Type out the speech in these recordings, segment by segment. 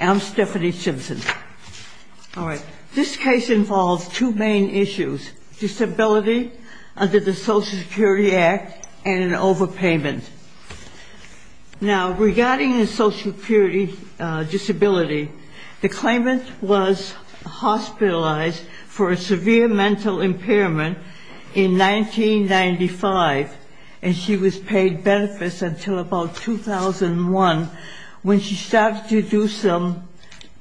I'm Stephanie Simpson. This case involves two main issues, disability under the Social Security Act and an overpayment. Now regarding the Social Security disability, the claimant was hospitalized for a severe mental impairment in 1995 and she was paid benefits until about 2001 when she started to do some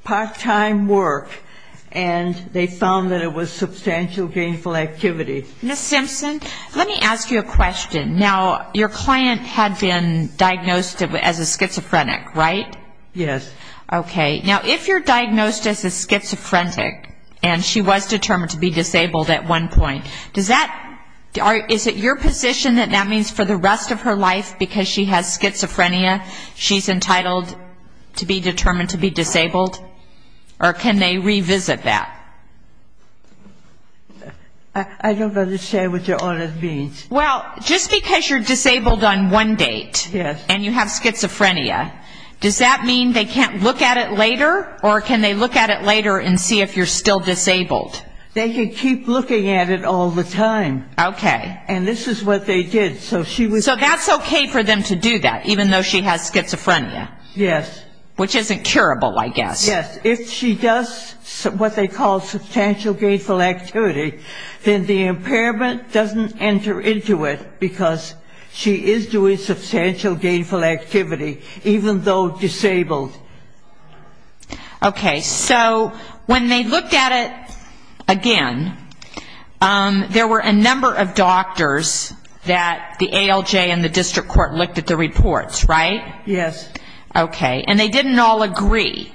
part-time work and they found that it was substantial gainful activity. Ms. Simpson, let me ask you a question. Now your client had been diagnosed as a schizophrenic, right? Yes. Okay. Now if you're diagnosed as a schizophrenic and she was determined to be disabled at one point, is it your position that that means for the rest of her life, because she has schizophrenia, she's entitled to be determined to be disabled? Or can they revisit that? I don't understand what your honor means. Well, just because you're disabled on one date and you have schizophrenia, does that mean they can't look at it later? Or can they look at it later and see if you're still disabled? They can keep looking at it all the time. Okay. And this is what they did. So that's okay for them to do that, even though she has schizophrenia? Yes. Which isn't curable, I guess. Yes. If she does what they call substantial gainful activity, then the impairment doesn't enter into it, because she is doing substantial gainful activity, even though disabled. Okay. So when they looked at it again, there were a number of doctors that the ALJ and the district court looked at the reports, right? Yes. Okay. And they didn't all agree?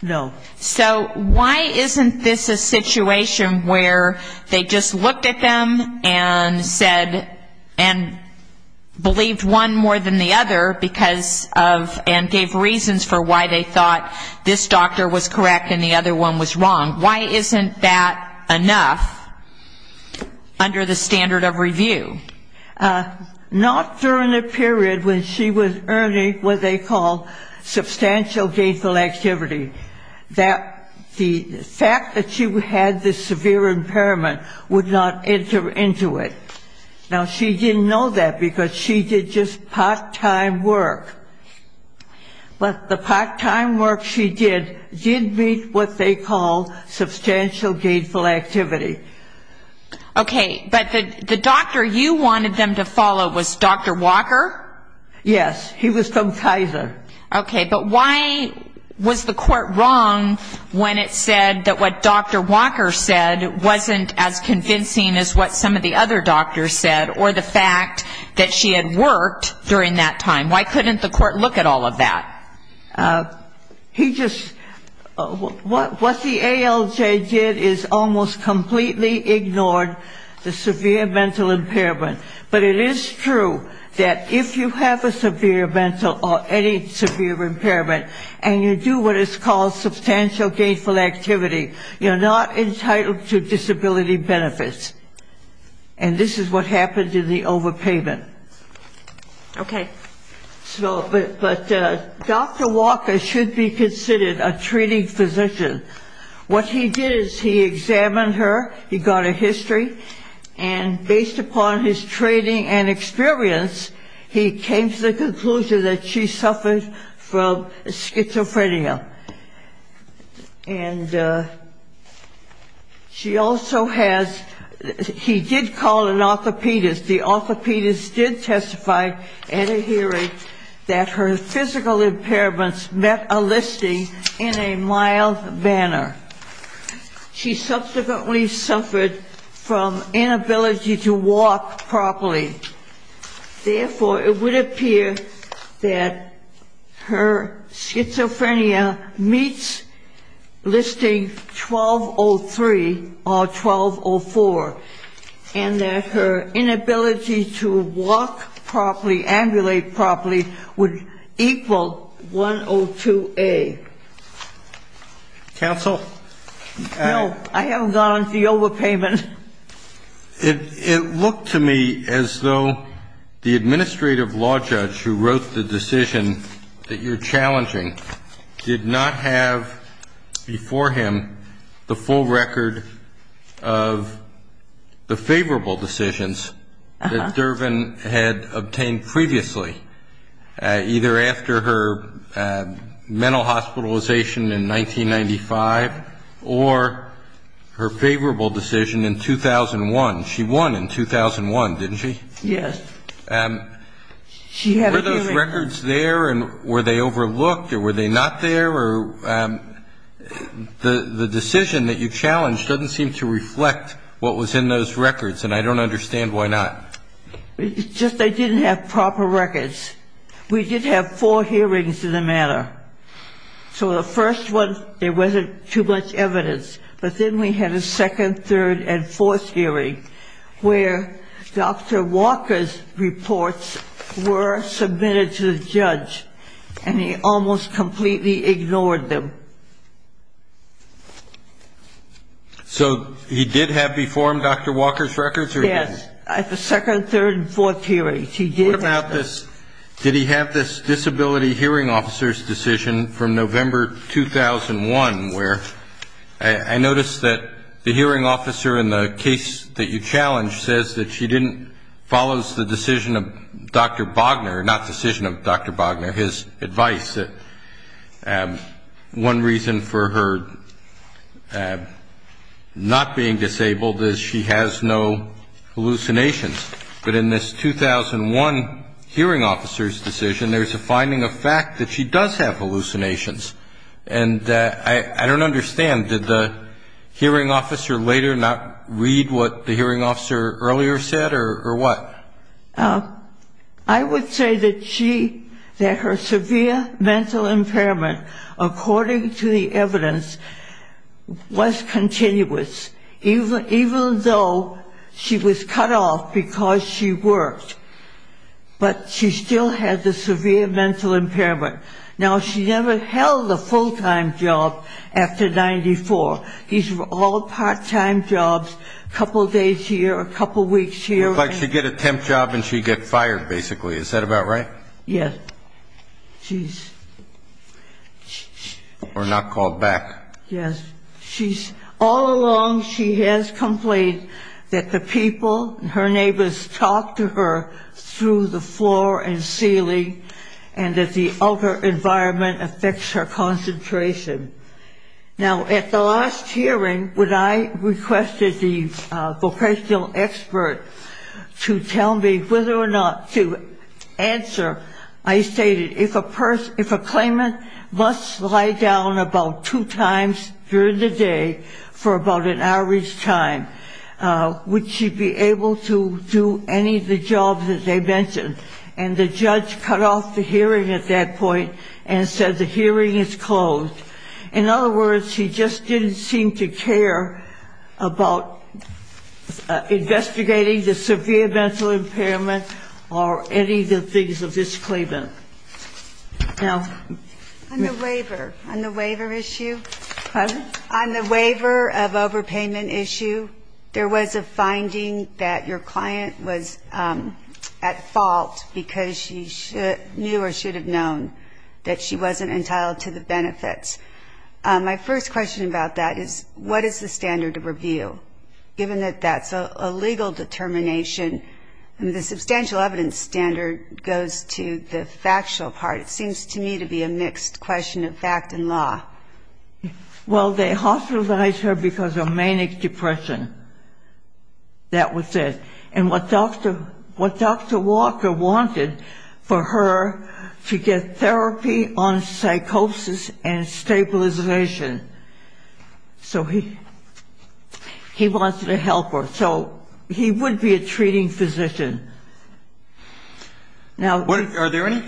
No. So why isn't this a situation where they just looked at them and said, and believed one more than the other because of, and gave reasons for why they thought this doctor was correct and the other one was wrong? Why isn't that enough under the standard of review? Not during the period when she was earning what they call substantial gainful activity. The fact that she had this severe impairment would not enter into it. Now, she didn't know that, because she did just part-time work. But the part-time work she did did meet what they call substantial gainful activity. Okay. But the doctor you wanted them to follow was Dr. Walker? Yes. He was from Kaiser. Okay. But why was the court wrong when it said that what Dr. Walker said wasn't as convincing as what some of the other doctors said, or the fact that she had worked during that time? Why couldn't the court look at all of that? He just, what the ALJ did is almost completely ignored the severe mental impairment. But it is true that if you have a severe mental or any severe impairment and you do what is called substantial gainful activity, you're not entitled to disability benefits. And this is what happened in the overpayment. Okay. But Dr. Walker should be considered a treating physician. What he did is he examined her. He got her history. And based upon his training and experience, he came to the conclusion that she suffered from schizophrenia. And she also has, he did call an orthopedist. The orthopedist did testify at a hearing that her physical impairments met a listing in a mild manner. She subsequently suffered from inability to walk properly. Therefore, it would appear that her schizophrenia meets listing 1203 or 1204, and that her inability to walk properly, ambulate properly, would equal 102A. Counsel? No, I haven't gone into the overpayment. It looked to me as though the administrative law judge who wrote the decision that you're challenging did not have before him the full record of the favorable decisions that Dervin had obtained previously, either after her mental hospitalization in 1995 or her favorable decision in 2001. She won in 2001, didn't she? Yes. Were those records there, and were they overlooked, or were they not there? The decision that you challenged doesn't seem to reflect what was in those records, and I don't understand why not. It's just they didn't have proper records. We did have four hearings in the matter. So the first one, there wasn't too much evidence. But then we had a second, third, and fourth hearing where Dr. Walker's reports were submitted to the judge, and he almost completely ignored them. So he did have before him Dr. Walker's records, or he didn't? Yes. At the second, third, and fourth hearings, he did have them. What about this? Did he have this disability hearing officer's decision from November 2001 where I noticed that the hearing officer in the case that you challenged says that she didn't follow the decision of Dr. Bogner, not the decision of Dr. Bogner, his advice that one reason for her not being disabled is she has no hallucinations. But in this 2001 hearing officer's decision, there's a finding of fact that she does have hallucinations. And I don't understand. Did the hearing officer later not read what the hearing officer earlier said, or what? I would say that she, that her severe mental impairment, according to the evidence, was continuous, even though she was cut off because she worked. But she still had the severe mental impairment. Now, she never held a full-time job after 94. These were all part-time jobs, a couple days here, a couple weeks here. It's like she'd get a temp job and she'd get fired, basically. Is that about right? Yes. She's... Or not called back. Yes. All along, she has complained that the people, her neighbors, talk to her through the floor and ceiling, and that the outer environment affects her concentration. Now, at the last hearing, when I requested the vocational expert to tell me whether or not to answer, I stated, if a claimant must lie down about two times during the day for about an hour each time, would she be able to do any of the jobs that they mentioned? And the judge cut off the hearing at that point and said, the hearing is closed. In other words, she just didn't seem to care about investigating the severe mental impairment or any of the things of this claimant. Now... On the waiver, on the waiver issue... Pardon? On the waiver of overpayment issue, there was a finding that your client was at fault because she knew or should have known that she wasn't entitled to the benefits. My first question about that is, what is the standard of review? Given that that's a legal determination, the substantial evidence standard goes to the factual part. It seems to me to be a mixed question of fact and law. Well, they hospitalized her because of manic depression. That was it. And what Dr. Walker wanted for her to get therapy on psychosis and stabilization. So he wanted to help her. So he would be a treating physician. Now... Are there any...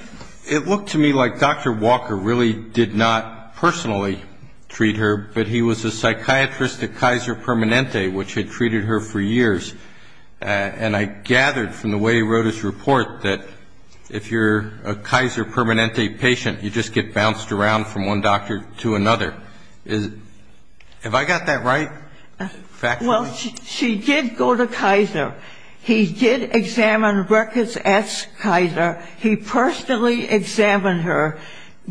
It looked to me like Dr. Walker really did not personally treat her, but he was a psychiatrist at Kaiser Permanente, which had treated her for years. And I gathered from the way he wrote his report that if you're a Kaiser Permanente patient, you just get bounced around from one doctor to another. Have I got that right, factually? Well, she did go to Kaiser. He did examine records at Kaiser. He personally examined her,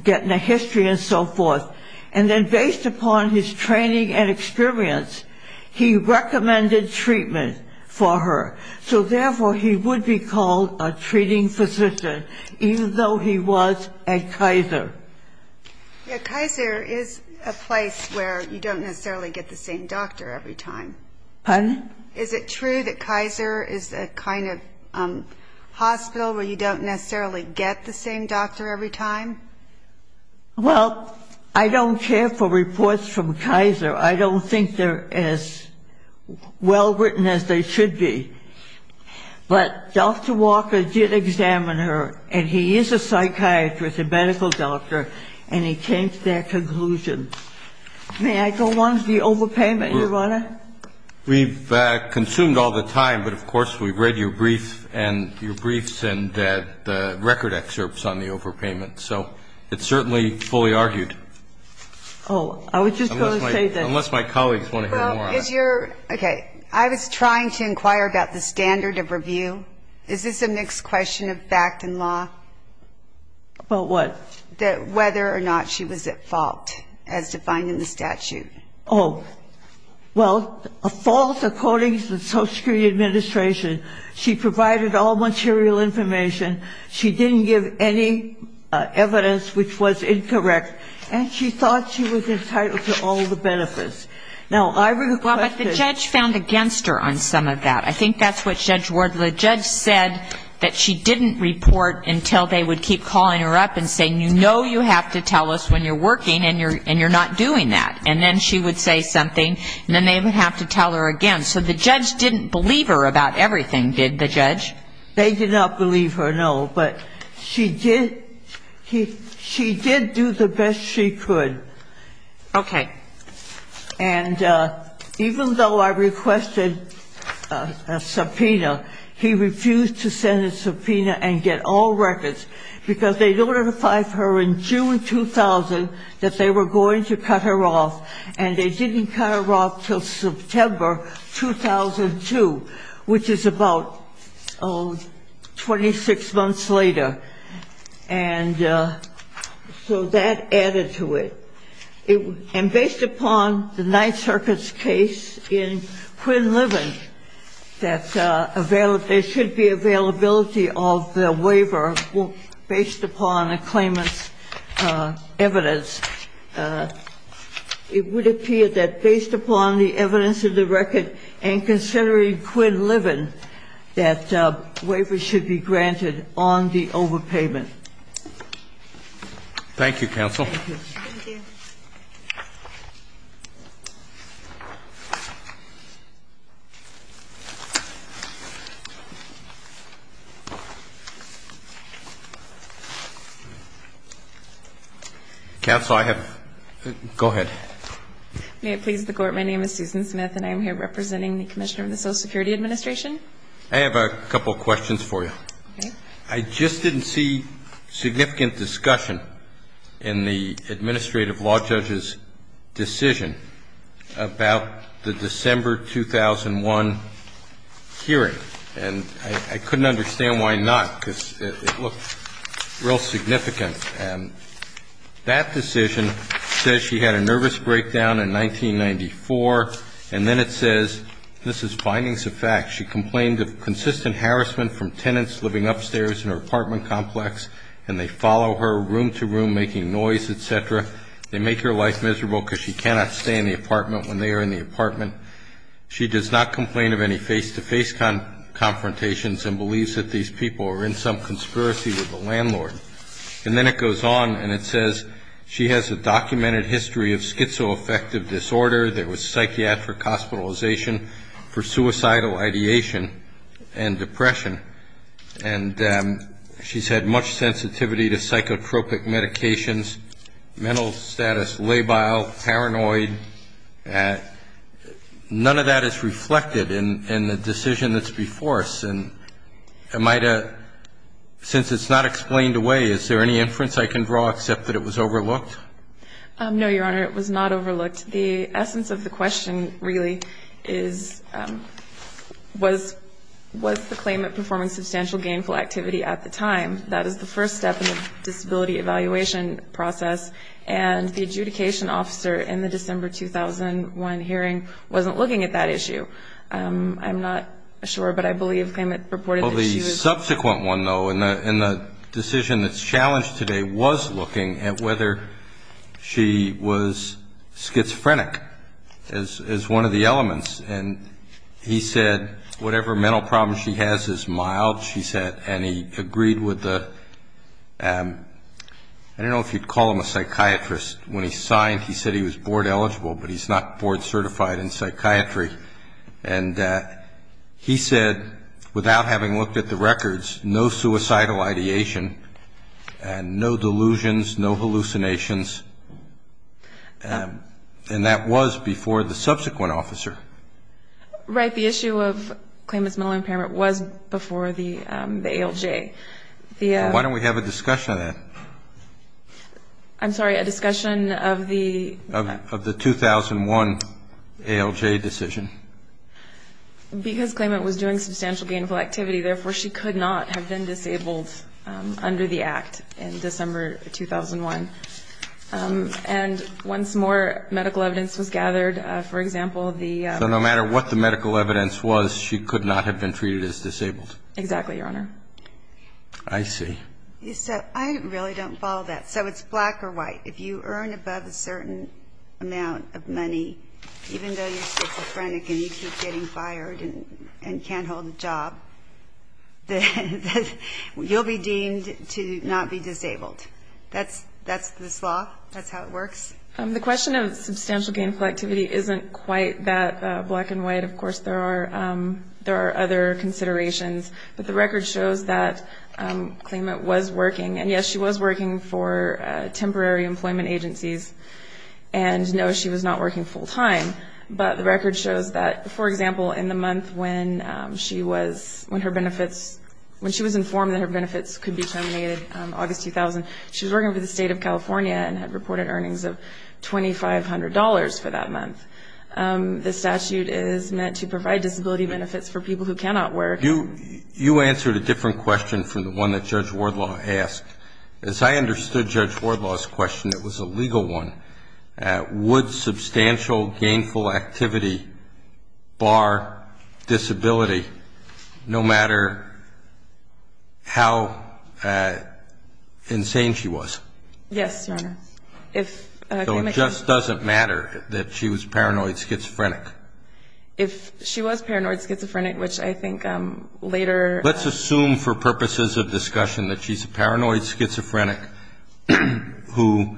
getting a history and so forth. And then based upon his training and experience, he recommended treatment for her. So therefore, he would be called a treating physician, even though he was at Kaiser. Yeah, Kaiser is a place where you don't necessarily get the same doctor every time. Pardon? Is it true that Kaiser is a kind of hospital where you don't necessarily get the same doctor every time? Well, I don't care for reports from Kaiser. I don't think they're as well written as they should be. But Dr. Walker did examine her, and he is a psychiatrist, a medical doctor, and he came to that conclusion. May I go on to the overpayment, Your Honor? We've consumed all the time, but of course we've read your briefs and the record excerpts on the overpayment. So it's certainly fully argued. Oh, I was just going to say that. Unless my colleagues want to hear more. Okay. I was trying to inquire about the standard of review. Is this a mixed question of fact and law? About what? That whether or not she was at fault, as defined in the statute. Oh. Well, a false according to the Social Security Administration. She provided all material information. She didn't give any evidence which was incorrect. And she thought she was entitled to all the benefits. Now, I request that ---- Well, but the judge found against her on some of that. I think that's what Judge Wardley said, that she didn't report until they would keep calling her up and saying, you know you have to tell us when you're working and you're not doing that. And then she would say something and then they would have to tell her again. So the judge didn't believe her about everything, did the judge? They did not believe her, no. But she did do the best she could. And even though I requested a subpoena, he refused to send a subpoena and get all records because they notified her in June 2000 that they were going to cut her off. And they didn't cut her off until September 2002, which is about 26 months later. And so that added to it. And based upon the Ninth Circuit's case in Quinn Living, that there should be availability of the waiver. And if the records are based upon a claimant's evidence, it would appear that based upon the evidence of the record and considering Quinn Living, that waiver should be granted on the overpayment. Thank you, counsel. Thank you. Thank you. Counsel, I have to go ahead. May it please the Court, my name is Susan Smith and I am here representing the Commissioner of the Social Security Administration. I have a couple of questions for you. Okay. I just didn't see significant discussion in the administrative law judge's decision about the December 2001 hearing. And I couldn't understand why not, because it looked real significant. And that decision says she had a nervous breakdown in 1994, and then it says, this is findings of fact, she complained of consistent harassment from tenants living upstairs in her apartment complex and they follow her room to room making noise, et cetera. They make her life miserable because she cannot stay in the apartment when they are in the apartment. She does not complain of any face-to-face confrontations and believes that these people are in some conspiracy with the landlord. And then it goes on and it says she has a documented history of schizoaffective disorder. There was psychiatric hospitalization for suicidal ideation and depression. And she's had much sensitivity to psychotropic medications, mental status, labile, paranoid. None of that is reflected in the decision that's before us. And since it's not explained away, is there any inference I can draw except that it was overlooked? No, Your Honor, it was not overlooked. The essence of the question really is, was the claimant performing substantial gainful activity at the time? That is the first step in the disability evaluation process. And the adjudication officer in the December 2001 hearing wasn't looking at that issue. I'm not sure, but I believe the claimant reported that she was. Well, the subsequent one, though, in the decision that's challenged today was looking at whether she was schizophrenic as one of the elements. And he said whatever mental problems she has is mild, she said. And he agreed with the ‑‑ I don't know if you'd call him a psychiatrist. When he signed, he said he was board eligible, but he's not board certified in psychiatry. And he said, without having looked at the records, no suicidal ideation and no delusions, no hallucinations. And that was before the subsequent officer. Right. The issue of claimant's mental impairment was before the ALJ. Why don't we have a discussion of that? I'm sorry, a discussion of the ‑‑ Because claimant was doing substantial gainful activity, therefore she could not have been disabled under the act in December 2001. And once more medical evidence was gathered, for example, the ‑‑ So no matter what the medical evidence was, she could not have been treated as disabled. Exactly, Your Honor. I see. So I really don't follow that. So it's black or white. If you earn above a certain amount of money, even though you're schizophrenic and you keep getting fired and can't hold a job, you'll be deemed to not be disabled. That's this law? That's how it works? The question of substantial gainful activity isn't quite that black and white. Of course, there are other considerations. But the record shows that claimant was working. And, yes, she was working for temporary employment agencies. And, no, she was not working full time. But the record shows that, for example, in the month when she was informed that her benefits could be terminated, August 2000, she was working for the State of California and had reported earnings of $2,500 for that month. The statute is meant to provide disability benefits for people who cannot work. You answered a different question from the one that Judge Wardlaw asked. As I understood Judge Wardlaw's question, it was a legal one. Would substantial gainful activity bar disability no matter how insane she was? Yes, Your Honor. So it just doesn't matter that she was paranoid schizophrenic? If she was paranoid schizophrenic, which I think later ---- Let's assume for purposes of discussion that she's a paranoid schizophrenic who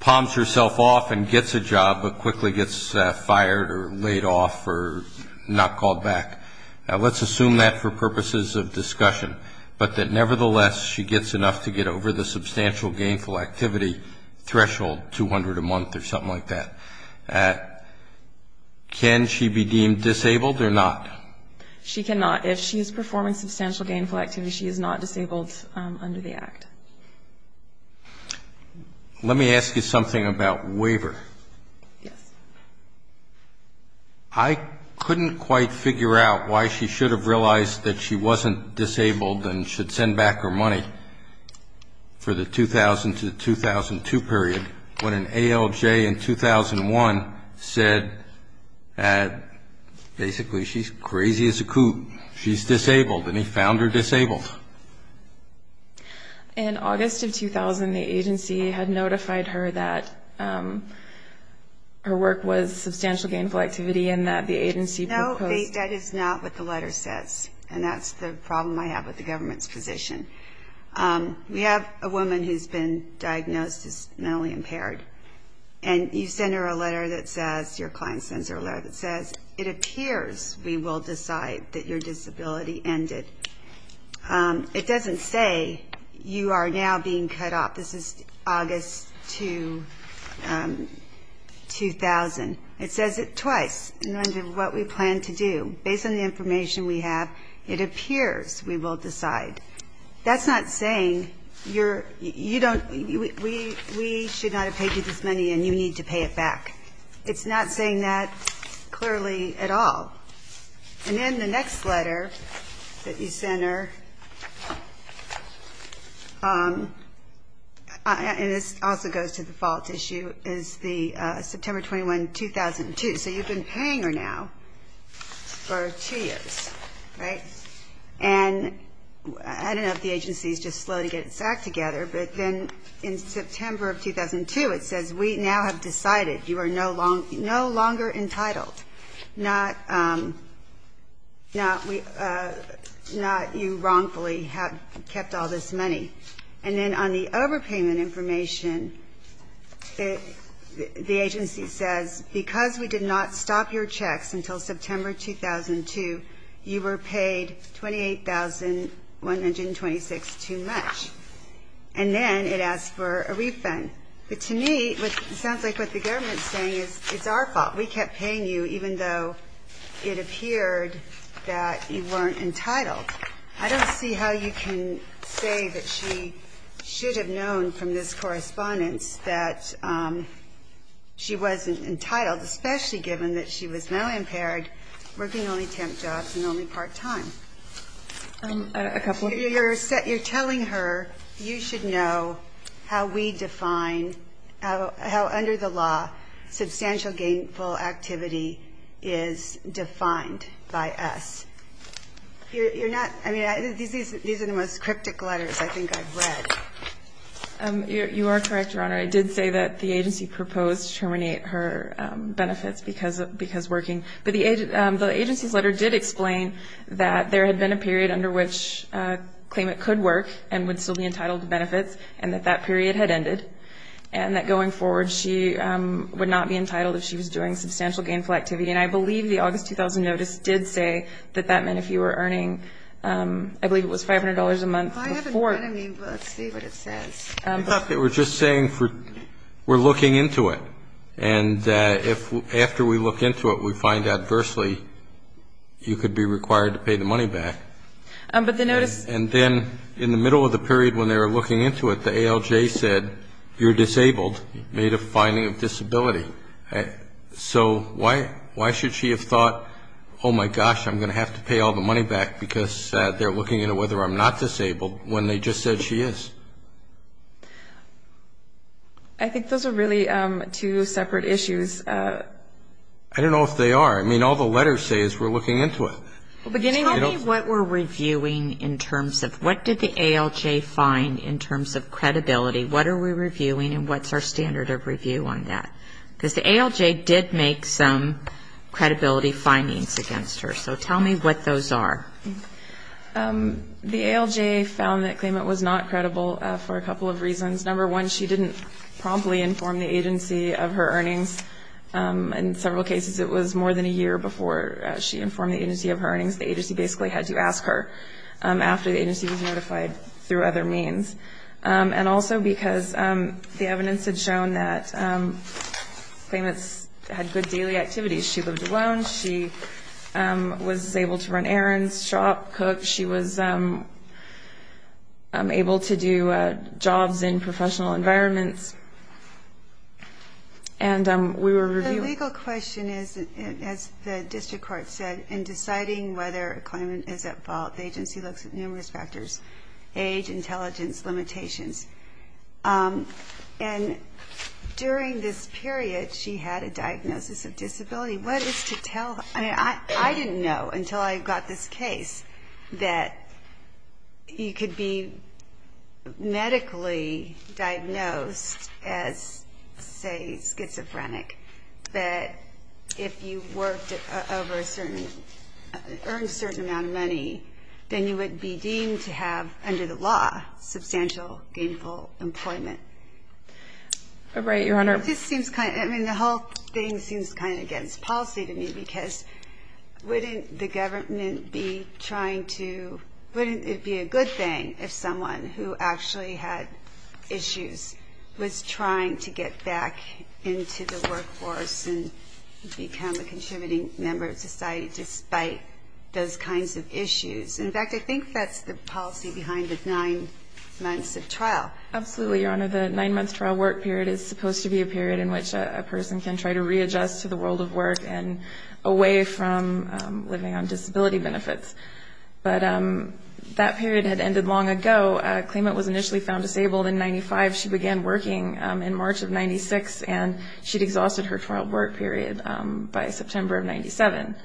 palms herself off and gets a job but quickly gets fired or laid off or not called back. Let's assume that for purposes of discussion, but that nevertheless she gets enough to get over the substantial gainful activity threshold, 200 a month or something like that. Can she be deemed disabled or not? She cannot. If she is performing substantial gainful activity, she is not disabled under the Act. Let me ask you something about waiver. Yes. I couldn't quite figure out why she should have realized that she wasn't disabled and should send back her money for the 2000 to 2002 period when an ALJ in 2001 said that basically she's crazy as a coot. She's disabled, and he found her disabled. In August of 2000, the agency had notified her that her work was substantial gainful activity and that the agency proposed ---- That is not what the letter says, and that's the problem I have with the government's position. We have a woman who's been diagnosed as mentally impaired, and you send her a letter that says, your client sends her a letter that says, it appears we will decide that your disability ended. It doesn't say you are now being cut off. This is August 2000. It says it twice in terms of what we plan to do. Based on the information we have, it appears we will decide. That's not saying we should not have paid you this money and you need to pay it back. It's not saying that clearly at all. And then the next letter that you send her, and this also goes to the fault issue, is September 21, 2002. So you've been paying her now for two years, right? And I don't know if the agency is just slow to get its act together, but then in September of 2002 it says, we now have decided you are no longer entitled. Not you wrongfully have kept all this money. And then on the overpayment information, the agency says, because we did not stop your checks until September 2002, you were paid $28,126 too much. And then it asks for a refund. But to me, it sounds like what the government is saying is it's our fault. We kept paying you even though it appeared that you weren't entitled. I don't see how you can say that she should have known from this correspondence that she wasn't entitled, especially given that she was mal-impaired, working only temp jobs and only part-time. You're telling her you should know how we define, how under the law substantial gainful activity is defined by us. These are the most cryptic letters I think I've read. You are correct, Your Honor. I did say that the agency proposed to terminate her benefits because working. But the agency's letter did explain that there had been a period under which a claimant could work and would still be entitled to benefits and that that period had ended. And that going forward, she would not be entitled if she was doing substantial gainful activity. And I believe the August 2000 notice did say that that meant if you were earning, I believe it was $500 a month before. I haven't read it. Let's see what it says. I thought they were just saying we're looking into it. And after we look into it, we find adversely you could be required to pay the money back. And then in the middle of the period when they were looking into it, the ALJ said you're disabled, made a finding of disability. So why should she have thought, oh, my gosh, I'm going to have to pay all the money back, because they're looking into whether I'm not disabled when they just said she is? I think those are really two separate issues. I don't know if they are. I mean, all the letters say is we're looking into it. Tell me what we're reviewing in terms of what did the ALJ find in terms of credibility? What are we reviewing and what's our standard of review on that? Because the ALJ did make some credibility findings against her. So tell me what those are. The ALJ found that Klamath was not credible for a couple of reasons. Number one, she didn't promptly inform the agency of her earnings. In several cases, it was more than a year before she informed the agency of her earnings. The agency basically had to ask her after the agency was notified through other means. And also because the evidence had shown that Klamath had good daily activities. She lived alone. She was able to run errands, shop, cook. She was able to do jobs in professional environments. And we were reviewing. The legal question is, as the district court said, in deciding whether a claimant is at fault, the agency looks at numerous factors, age, intelligence, limitations. And during this period, she had a diagnosis of disability. What is to tell? I mean, I didn't know until I got this case that you could be medically diagnosed as, say, schizophrenic, that if you worked over a certain or earned a certain amount of money, then you would be deemed to have, under the law, substantial gainful employment. Right, Your Honor. I mean, the whole thing seems kind of against policy to me because wouldn't it be a good thing if someone who actually had issues was trying to get back into the workforce and become a contributing member of society despite those kinds of issues? In fact, I think that's the policy behind the nine months of trial. Absolutely, Your Honor. The nine-month trial work period is supposed to be a period in which a person can try to readjust to the world of work and away from living on disability benefits. But that period had ended long ago. A claimant was initially found disabled in 1995. She began working in March of 1996, and she'd exhausted her trial work period by September of 1997.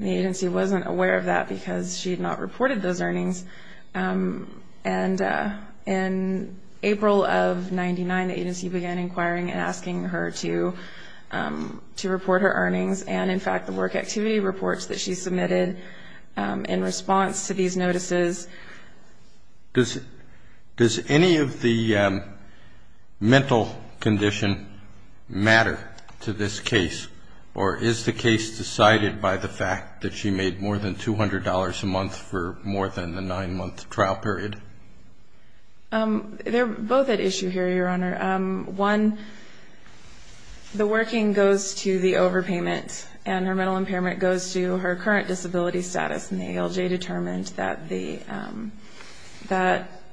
The agency wasn't aware of that because she had not reported those earnings. And in April of 1999, the agency began inquiring and asking her to report her earnings and, in fact, the work activity reports that she submitted in response to these notices. Does any of the mental condition matter to this case, or is the case decided by the fact that she made more than $200 a month for more than the nine-month trial period? They're both at issue here, Your Honor. One, the working goes to the overpayment, and her mental impairment goes to her current disability status, and the ALJ determined that the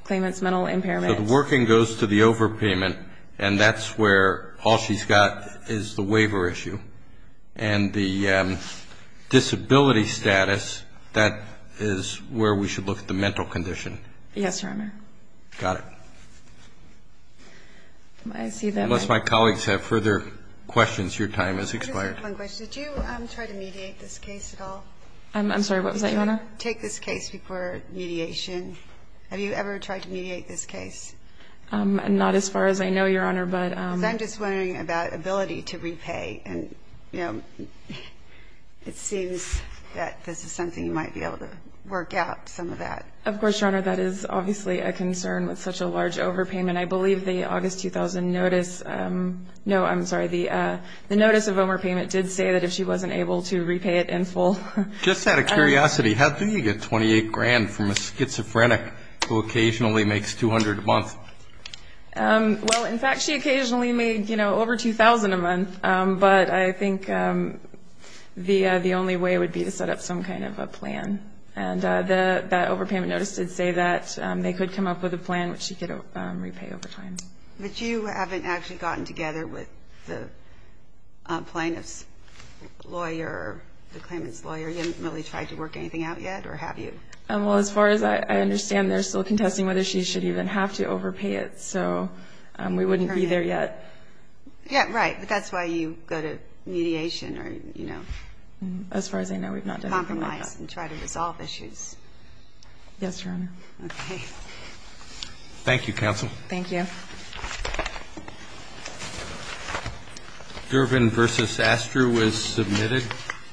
claimant's mental impairment. So the working goes to the overpayment, and that's where all she's got is the waiver issue. And the disability status, that is where we should look at the mental condition. Yes, Your Honor. Got it. Unless my colleagues have further questions, your time has expired. I just have one question. Did you try to mediate this case at all? I'm sorry, what was that, Your Honor? Did you take this case before mediation? Have you ever tried to mediate this case? Not as far as I know, Your Honor, but ‑‑ Because I'm just wondering about ability to repay, and it seems that this is something you might be able to work out, some of that. Of course, Your Honor, that is obviously a concern with such a large overpayment. I believe the August 2000 notice ‑‑ no, I'm sorry, the notice of overpayment did say that if she wasn't able to repay it in full. Just out of curiosity, how do you get 28 grand from a schizophrenic who occasionally makes 200 a month? Well, in fact, she occasionally made over 2,000 a month, but I think the only way would be to set up some kind of a plan. And that overpayment notice did say that they could come up with a plan which she could repay over time. But you haven't actually gotten together with the plaintiff's lawyer, the claimant's lawyer? You haven't really tried to work anything out yet, or have you? Well, as far as I understand, they're still contesting whether she should even have to overpay it, so we wouldn't be there yet. Yeah, right, but that's why you go to mediation or, you know, compromise and try to resolve issues. Yes, Your Honor. Okay. Thank you, counsel. Thank you.